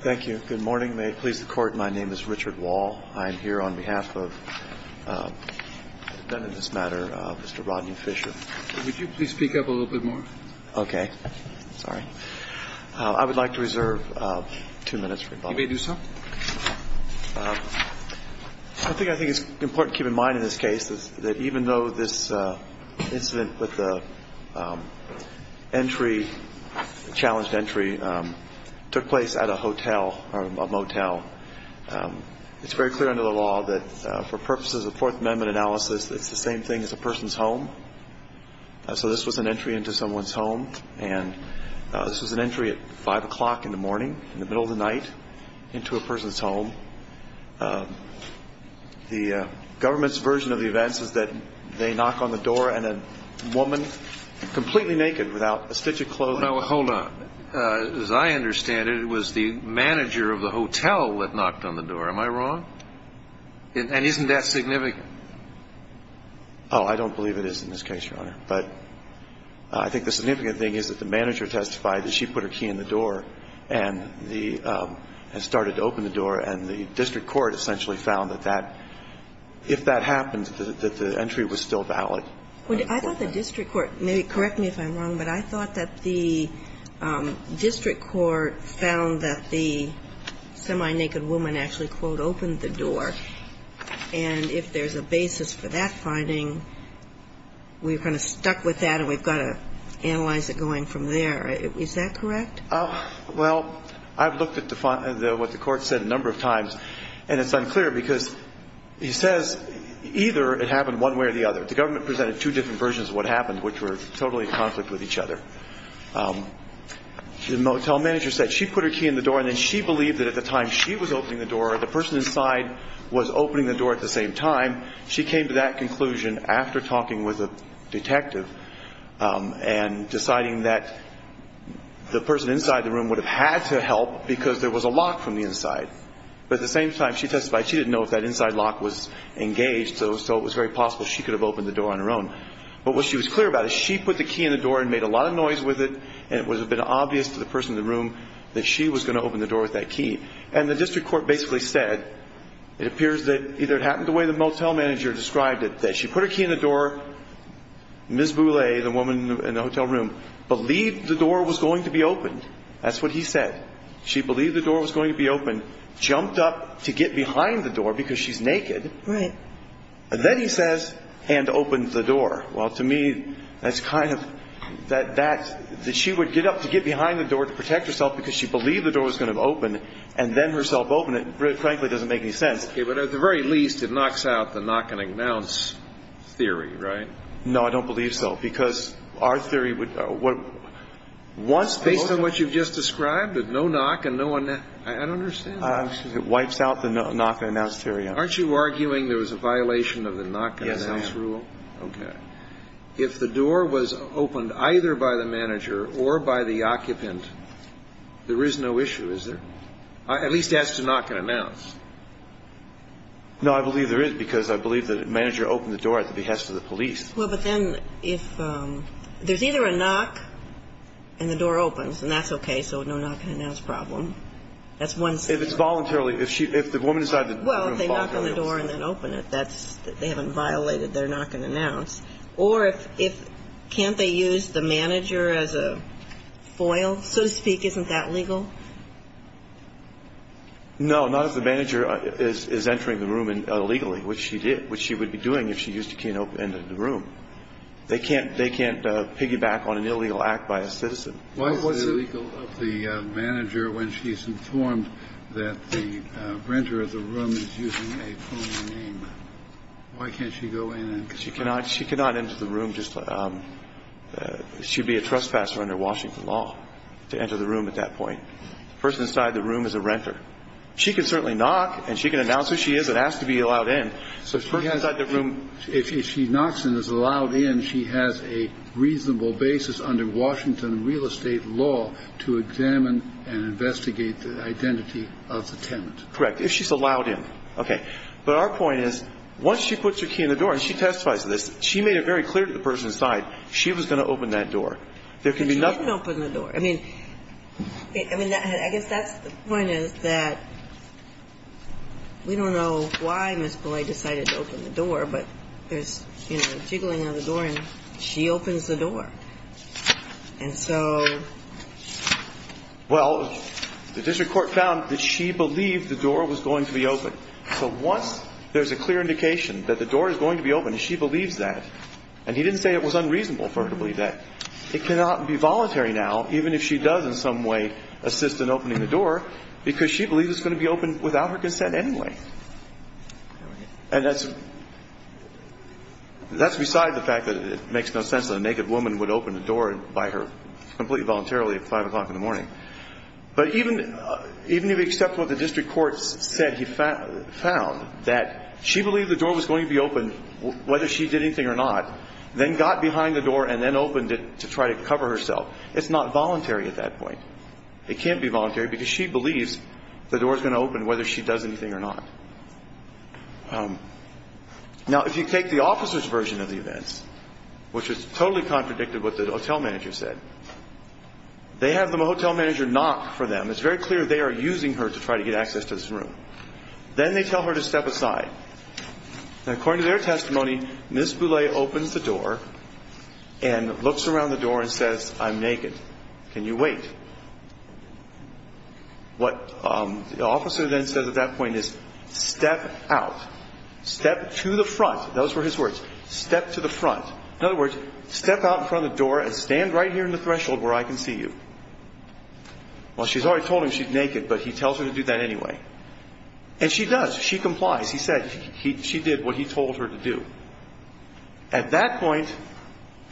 Thank you. Good morning. May it please the Court, my name is Richard Wall. I am here on behalf of the defendant in this matter, Mr. Rodney Fisher. Would you please speak up a little bit more? Okay. Sorry. I would like to reserve two minutes for rebuttal. You may do so. I think it's important to keep in mind in this case that even though this incident with the entry, challenged entry, took place at a hotel or a motel, it's very clear under the law that for purposes of Fourth Amendment analysis, it's the same thing as a person's home. So this was an entry into someone's home, and this was an entry at 5 o'clock in the morning, in the middle of the night, into a person's home. The government's version of the events is that they knock on the door and a woman, completely naked, without a stitch of clothing. Now, hold on. As I understand it, it was the manager of the hotel that knocked on the door. Am I wrong? And isn't that significant? Oh, I don't believe it is in this case, Your Honor. But I think the significant thing is that the manager testified that she put her key in the door and the – and started to open the door, and the district court essentially found that that – if that happened, that the entry was still valid. I thought the district court – correct me if I'm wrong, but I thought that the district court found that the semi-naked woman actually, quote, opened the door, and if there's a basis for that finding, we're kind of stuck with that and we've got to analyze it going from there. Is that correct? Well, I've looked at the – what the court said a number of times, and it's unclear because he says either it happened one way or the other. The government presented two different versions of what happened, which were totally in conflict with each other. The motel manager said she put her key in the door and then she believed that at the time she was opening the door, the person inside was opening the door at the same time. She came to that conclusion after talking with a detective and deciding that the person inside the room would have had to help because there was a lock from the inside. But at the same time, she testified she didn't know if that inside lock was engaged, so it was very possible she could have opened the door on her own. But what she was clear about is she put the key in the door and made a lot of noise with it, and it was a bit obvious to the person in the room that she was going to open the door with that key. And the district court basically said it appears that either it happened the way the motel manager described it, that she put her key in the door, Ms. Boulay, the woman in the hotel room, believed the door was going to be opened. That's what he said. She believed the door was going to be opened, jumped up to get behind the door. Well, to me, that's kind of that she would get up to get behind the door to protect herself because she believed the door was going to open and then herself open it frankly doesn't make any sense. Okay, but at the very least, it knocks out the knock and announce theory, right? No, I don't believe so, because our theory would... Based on what you've just described, no knock and no announce? I don't understand that. It wipes out the knock and announce theory. Aren't you arguing there was a violation of the knock and announce rule? Okay. If the door was opened either by the manager or by the occupant, there is no issue, is there? At least as to knock and announce. No, I believe there is, because I believe the manager opened the door at the behest of the police. Well, but then if there's either a knock and the door opens, and that's okay, so no knock and announce problem. That's one scenario. If it's voluntarily, if the woman inside the room voluntarily... Well, if they knock on the door and then open it, that's they haven't violated their knock and announce. Or if can't they use the manager as a foil, so to speak, isn't that legal? No, not if the manager is entering the room illegally, which she did, which she would be doing if she used a key and opened the room. They can't piggyback on an illegal act by a citizen. Why is it illegal if the manager, when she's informed that the renter of the room is using a phone name, why can't she go in and... She cannot. She cannot enter the room. She would be a trespasser under Washington law to enter the room at that point. The person inside the room is a renter. She can certainly knock and she can announce who she is and ask to be allowed in. So the person inside the room... If she knocks and is allowed in, she has a reasonable basis under Washington real estate law to examine and investigate the identity of the tenant. Correct. If she's allowed in. Okay. But our point is once she puts her key in the door, and she testifies to this, she made it very clear to the person inside she was going to open that door. There can be nothing... But she didn't open the door. I mean, I guess that's the point is that we don't know why Ms. Pillay decided to open the door, but there's jiggling on the door and she opens the door. And so... Well, the district court found that she believed the door was going to be open. So once there's a clear indication that the door is going to be open and she believes that, and he didn't say it was unreasonable for her to believe that, it cannot be voluntary now, even if she does in some way assist in opening the door, because she believes it's going to be open without her consent anyway. And that's beside the fact that it makes no sense that a naked woman would open the door by her, completely voluntarily at 5 o'clock in the morning. But even if you accept what the district court said he found, that she believed the door was going to be open whether she did anything or not, then got behind the door and then opened it to try to cover herself. It's not voluntary at that point. It can't be voluntary because she believes the door is going to open whether she does anything or not. Now, if you take the officer's version of the events, which is totally contradicted what the hotel manager said, they have the hotel manager knock for them. It's very clear they are using her to try to get access to this room. Then they tell her to step aside. According to their testimony, Ms. Boulay opens the door. What the officer then says at that point is, step out. Step to the front. Those were his words. Step to the front. In other words, step out in front of the door and stand right here in the threshold where I can see you. Well, she's already told him she's naked, but he tells her to do that anyway. And she does. She complies. He said she did what he told her to do. At that point,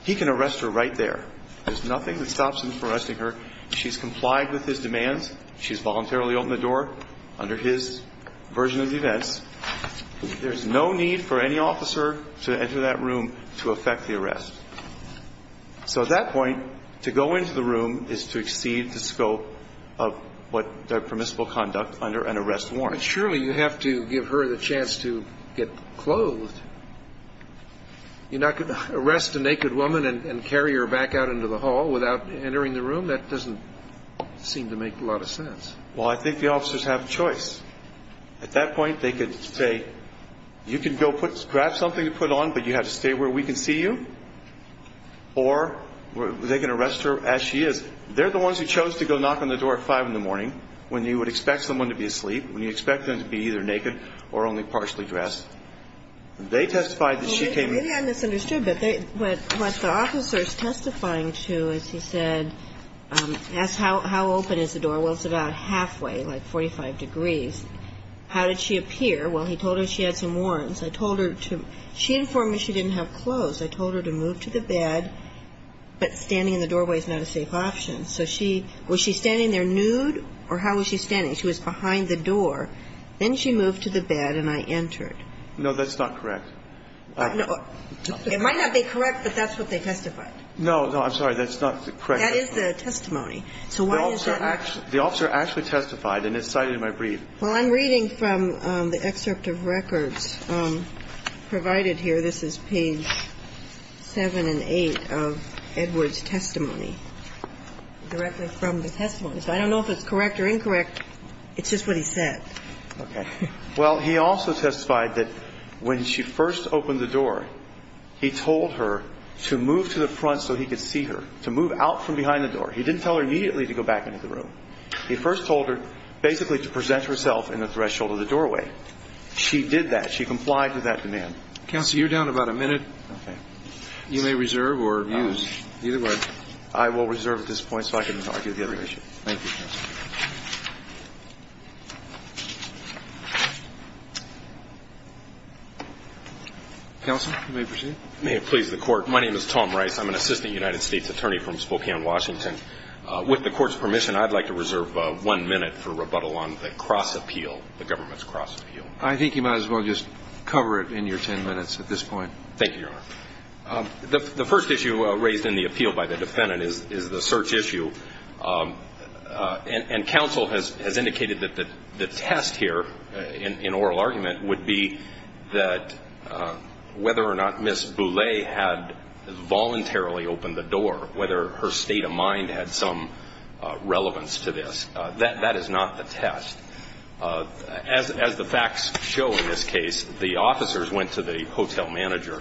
he can arrest her right there. There's nothing that stops him from arresting her. She's complied with his demands. She's voluntarily opened the door under his version of the events. There's no need for any officer to enter that room to effect the arrest. So at that point, to go into the room is to exceed the scope of what the permissible conduct under an arrest warrant. But surely you have to give her the chance to get clothed. You're not going to arrest a naked woman and carry her back out into the hall without entering the room. That doesn't seem to make a lot of sense. Well, I think the officers have a choice. At that point, they could say, you can go grab something to put on, but you have to stay where we can see you. Or they can arrest her as she is. They're the ones who chose to go knock on the door at 5 in the morning when you would expect someone to be asleep, when you expect them to be either naked or only partially dressed. They testified that she came in. Well, maybe I misunderstood, but what the officer is testifying to is he said, asked how open is the door. Well, it's about halfway, like 45 degrees. How did she appear? Well, he told her she had some warrants. I told her to, she informed me she didn't have clothes. I told her to move to the bed, but standing in the doorway is not a safe option. So she, was she standing there nude or how was she standing? She was behind the door. Then she moved to the bed and I entered. No, that's not correct. It might not be correct, but that's what they testified. No, no, I'm sorry. That's not correct. That is the testimony. So why is that? The officer actually testified and it's cited in my brief. Well, I'm reading from the excerpt of records provided here. This is page 7 and 8 of Edwards' testimony. I don't know if it's correct or incorrect. It's just what he said. Okay. Well, he also testified that when she first opened the door, he told her to move to the front so he could see her, to move out from behind the door. He didn't tell her immediately to go back into the room. He first told her basically to present herself in the threshold of the doorway. She did that. She complied with that demand. Counsel, you're down about a minute. Okay. You may reserve or abuse. Either way. I will reserve at this point so I can argue the other issue. Thank you. Counsel, you may proceed. May it please the Court. My name is Tom Rice. I'm an assistant United States attorney from Spokane, Washington. With the Court's permission, I'd like to reserve one minute for rebuttal on the cross appeal, the government's cross appeal. I think you might as well just cover it in your ten minutes at this point. Thank you, Your Honor. The first issue raised in the appeal by the defendant is the search issue. And counsel has indicated that the test here in oral argument would be that whether or not Ms. Boulay had voluntarily opened the door, whether her state of mind had some relevance to this. That is not the test. As the facts show in this case, the officers went to the hotel manager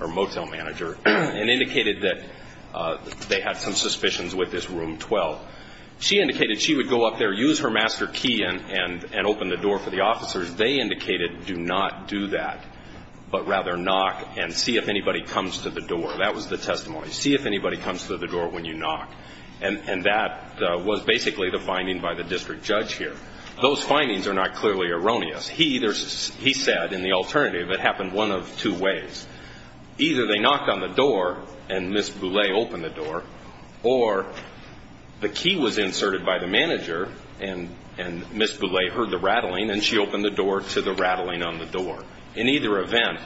or motel manager and indicated that they had some suspicions with this room 12. She indicated she would go up there, use her master key, and open the door for the officers. They indicated do not do that, but rather knock and see if anybody comes to the door. That was the testimony. See if anybody comes to the door when you knock. And that was basically the finding by the district judge here. Those findings are not clearly erroneous. He said, in the alternative, it happened one of two ways. Either they knocked on the door and Ms. Boulay opened the door, or the key was inserted by the manager and Ms. Boulay heard the rattling and she opened the door to the rattling on the door. In either event,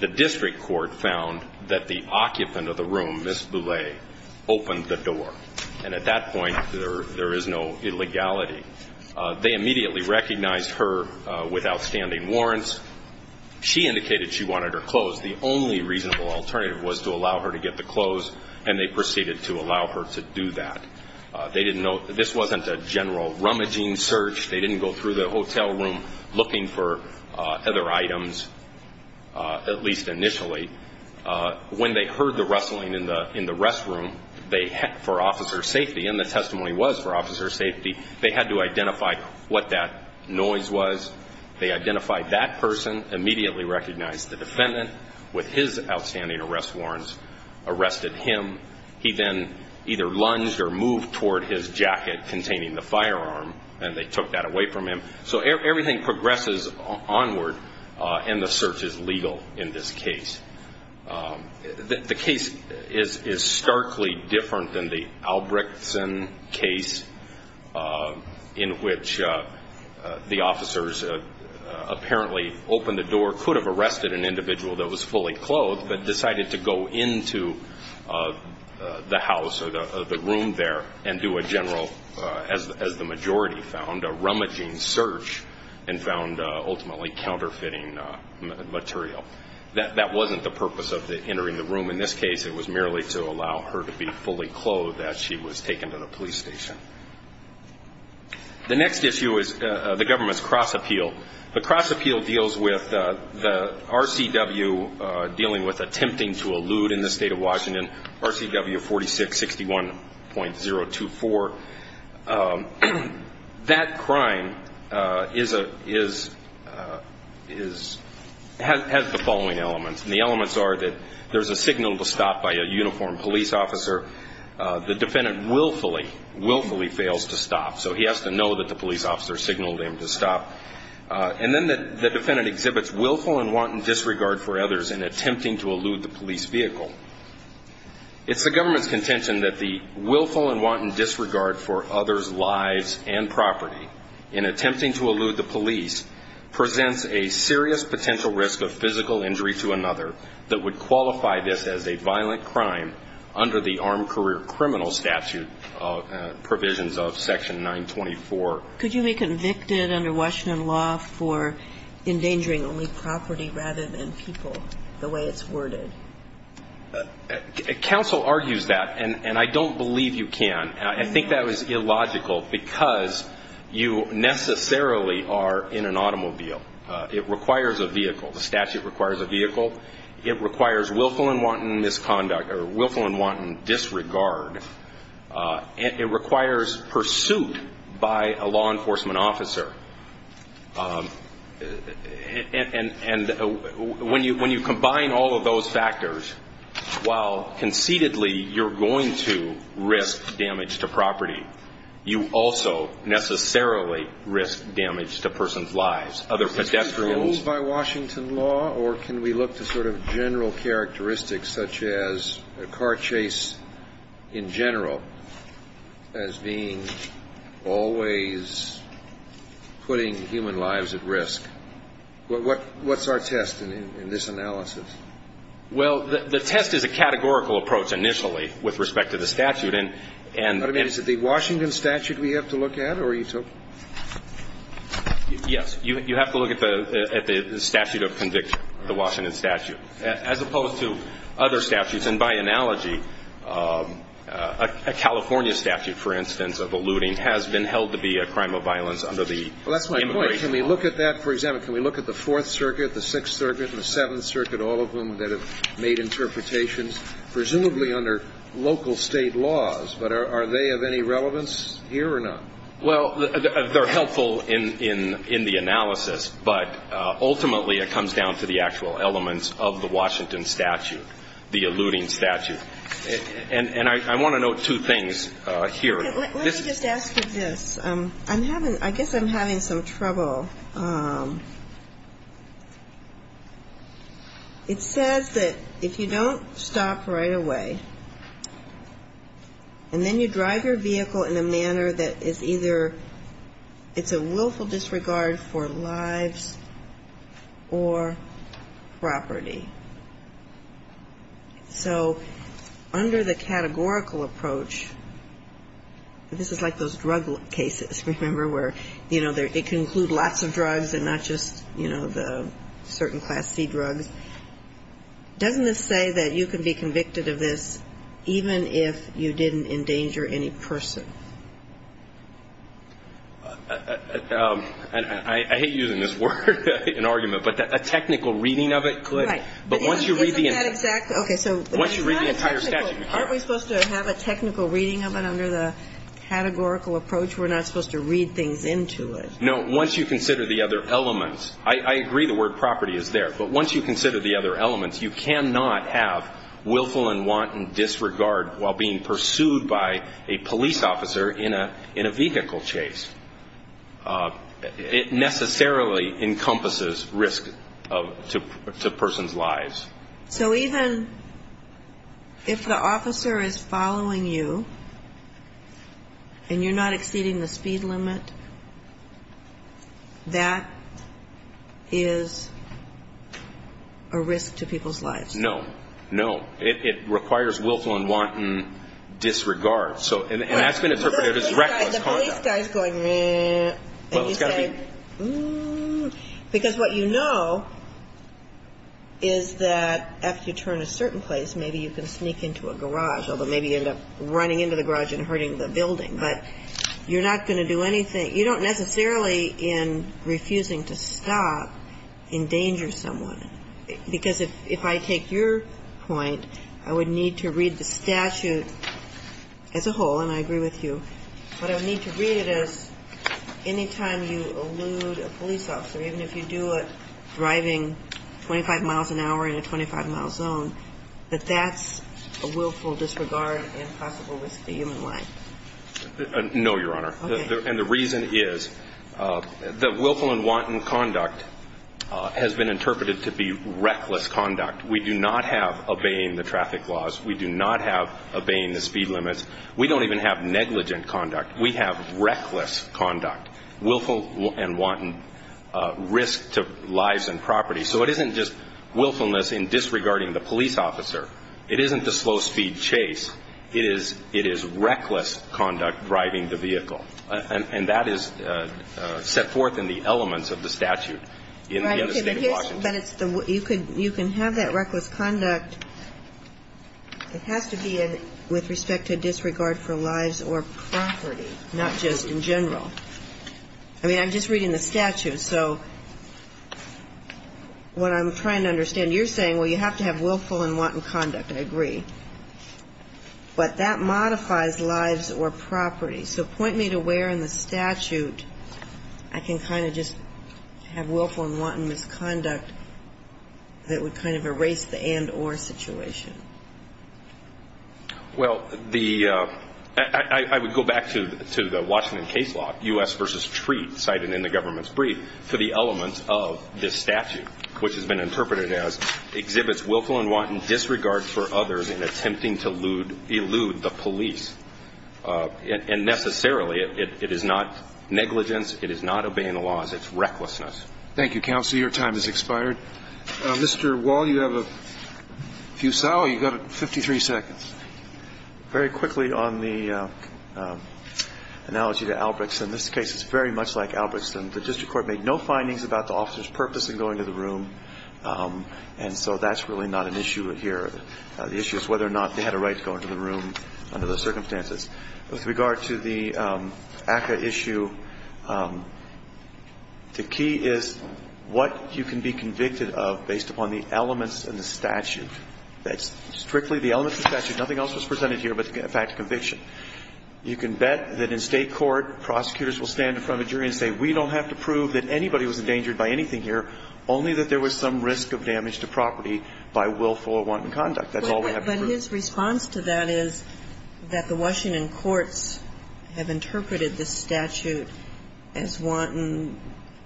the district court found that the occupant of the room, Ms. Boulay, opened the door. And at that point, there is no illegality. They immediately recognized her with outstanding warrants. She indicated she wanted her clothes. The only reasonable alternative was to allow her to get the clothes, and they proceeded to allow her to do that. They didn't know this wasn't a general rummaging search. They didn't go through the hotel room looking for other items, at least initially. When they heard the rustling in the restroom for officer safety, and the testimony was for officer safety, they had to identify what that noise was. They identified that person, immediately recognized the defendant with his outstanding arrest warrants, arrested him. He then either lunged or moved toward his jacket containing the firearm, and they took that away from him. So everything progresses onward, and the search is legal in this case. The case is starkly different than the Albrechtsen case, in which the officers apparently opened the door, could have arrested an individual that was fully clothed, but decided to go into the house or the room there and do a general, as the majority found, a rummaging search and found ultimately counterfeiting material. That wasn't the purpose of entering the room in this case. It was merely to allow her to be fully clothed as she was taken to the police station. The next issue is the government's cross appeal. The cross appeal deals with the RCW dealing with attempting to elude in the state of That crime has the following elements. The elements are that there's a signal to stop by a uniformed police officer. The defendant willfully, willfully fails to stop, so he has to know that the police officer signaled him to stop. And then the defendant exhibits willful and wanton disregard for others in attempting to elude the police vehicle. It's the government's contention that the willful and wanton disregard for others' lives and property in attempting to elude the police presents a serious potential risk of physical injury to another that would qualify this as a violent crime under the armed career criminal statute provisions of Section 924. Could you be convicted under Washington law for endangering only property rather than people, the way it's worded? Counsel argues that, and I don't believe you can. I think that was illogical because you necessarily are in an automobile. It requires a vehicle. The statute requires a vehicle. It requires willful and wanton misconduct or willful and wanton disregard. It requires pursuit by a law enforcement officer. And when you combine all of those factors, while conceitedly you're going to risk damage to property, you also necessarily risk damage to a person's lives, other pedestrians. Is this ruled by Washington law, or can we look to sort of general characteristics such as a car chase in general as being always a crime? Putting human lives at risk. What's our test in this analysis? Well, the test is a categorical approach initially with respect to the statute. I mean, is it the Washington statute we have to look at, or are you talking? Yes. You have to look at the statute of conviction, the Washington statute, as opposed to other statutes. Well, that's my point. Can we look at that? For example, can we look at the Fourth Circuit, the Sixth Circuit, the Seventh Circuit, all of them that have made interpretations, presumably under local state laws, but are they of any relevance here or not? Well, they're helpful in the analysis, but ultimately it comes down to the actual elements of the Washington statute, the alluding statute. And I want to note two things here. Let me just ask you this. I guess I'm having some trouble. It says that if you don't stop right away, and then you drive your vehicle in a manner that is either it's a willful disregard for lives or property. So under the categorical approach, this is like those drug cases, remember, where, you know, it can include lots of drugs and not just, you know, the certain Class C drugs. Doesn't it say that you can be convicted of this even if you didn't endanger any person? I hate using this word, an argument, but a technical reading of it could. Right. But once you read the entire statute. Aren't we supposed to have a technical reading of it under the categorical approach? We're not supposed to read things into it. No, once you consider the other elements. I agree the word property is there. But once you consider the other elements, you cannot have willful and wanton disregard while being pursued by a police officer in a vehicle chase. It necessarily encompasses risk to a person's lives. So even if the officer is following you and you're not exceeding the speed limit, that is a risk to people's lives. No, no. It requires willful and wanton disregard. And that's been interpreted as reckless conduct. And the police guy is going, meh. And you say, mmm. Because what you know is that after you turn a certain place, maybe you can sneak into a garage, although maybe you end up running into the garage and hurting the building. But you're not going to do anything. You don't necessarily, in refusing to stop, endanger someone. Because if I take your point, I would need to read the statute as a whole, and I agree with you. But I would need to read it as any time you elude a police officer, even if you do it driving 25 miles an hour in a 25-mile zone, that that's a willful disregard and possible risk to human life. No, Your Honor. Okay. And the reason is that willful and wanton conduct has been interpreted to be reckless conduct. We do not have obeying the traffic laws. We do not have obeying the speed limits. We don't even have negligent conduct. We have reckless conduct, willful and wanton risk to lives and property. So it isn't just willfulness in disregarding the police officer. It isn't the slow-speed chase. It is reckless conduct driving the vehicle. And that is set forth in the elements of the statute in the State of Washington. Well, but you can have that reckless conduct. It has to be with respect to disregard for lives or property, not just in general. I mean, I'm just reading the statute. So what I'm trying to understand, you're saying, well, you have to have willful and wanton conduct. I agree. But that modifies lives or property. So point me to where in the statute I can kind of just have willful and wanton misconduct that would kind of erase the and-or situation. Well, the ‑‑ I would go back to the Washington case law, U.S. v. Treat, cited in the government's brief, to the elements of this statute, which has been interpreted as exhibits willful and wanton disregard for others in attempting to elude the police. And necessarily, it is not negligence. It is not obeying the laws. It's recklessness. Thank you, counsel. Your time has expired. Mr. Wall, you have a few ‑‑ oh, you've got 53 seconds. Very quickly on the analogy to Albregtson. This case is very much like Albregtson. The district court made no findings about the officer's purpose in going to the room. And so that's really not an issue here. The issue is whether or not they had a right to go into the room under those circumstances. With regard to the ACCA issue, the key is what you can be convicted of based upon the elements in the statute. That's strictly the elements of the statute. Nothing else was presented here but the fact of conviction. You can bet that in State court, prosecutors will stand in front of a jury and say, we don't have to prove that anybody was endangered by anything here, only that there was some risk of damage to property by willful or wanton conduct. That's all we have to prove. But his response to that is that the Washington courts have interpreted this statute as wanton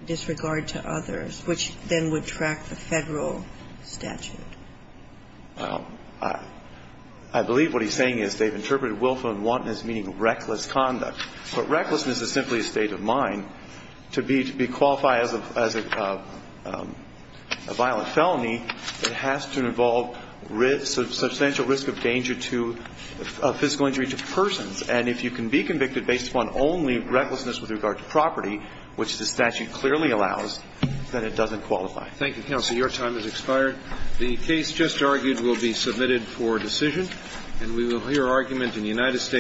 disregard to others, which then would track the Federal statute. I believe what he's saying is they've interpreted willful and wanton as meaning reckless conduct. But recklessness is simply a state of mind. To be qualified as a violent felony, it has to involve substantial risk of danger to a physical injury to persons. And if you can be convicted based upon only recklessness with regard to property, which the statute clearly allows, then it doesn't qualify. Thank you, counsel. Your time has expired. The case just argued will be submitted for decision. And we will hear argument in the United States.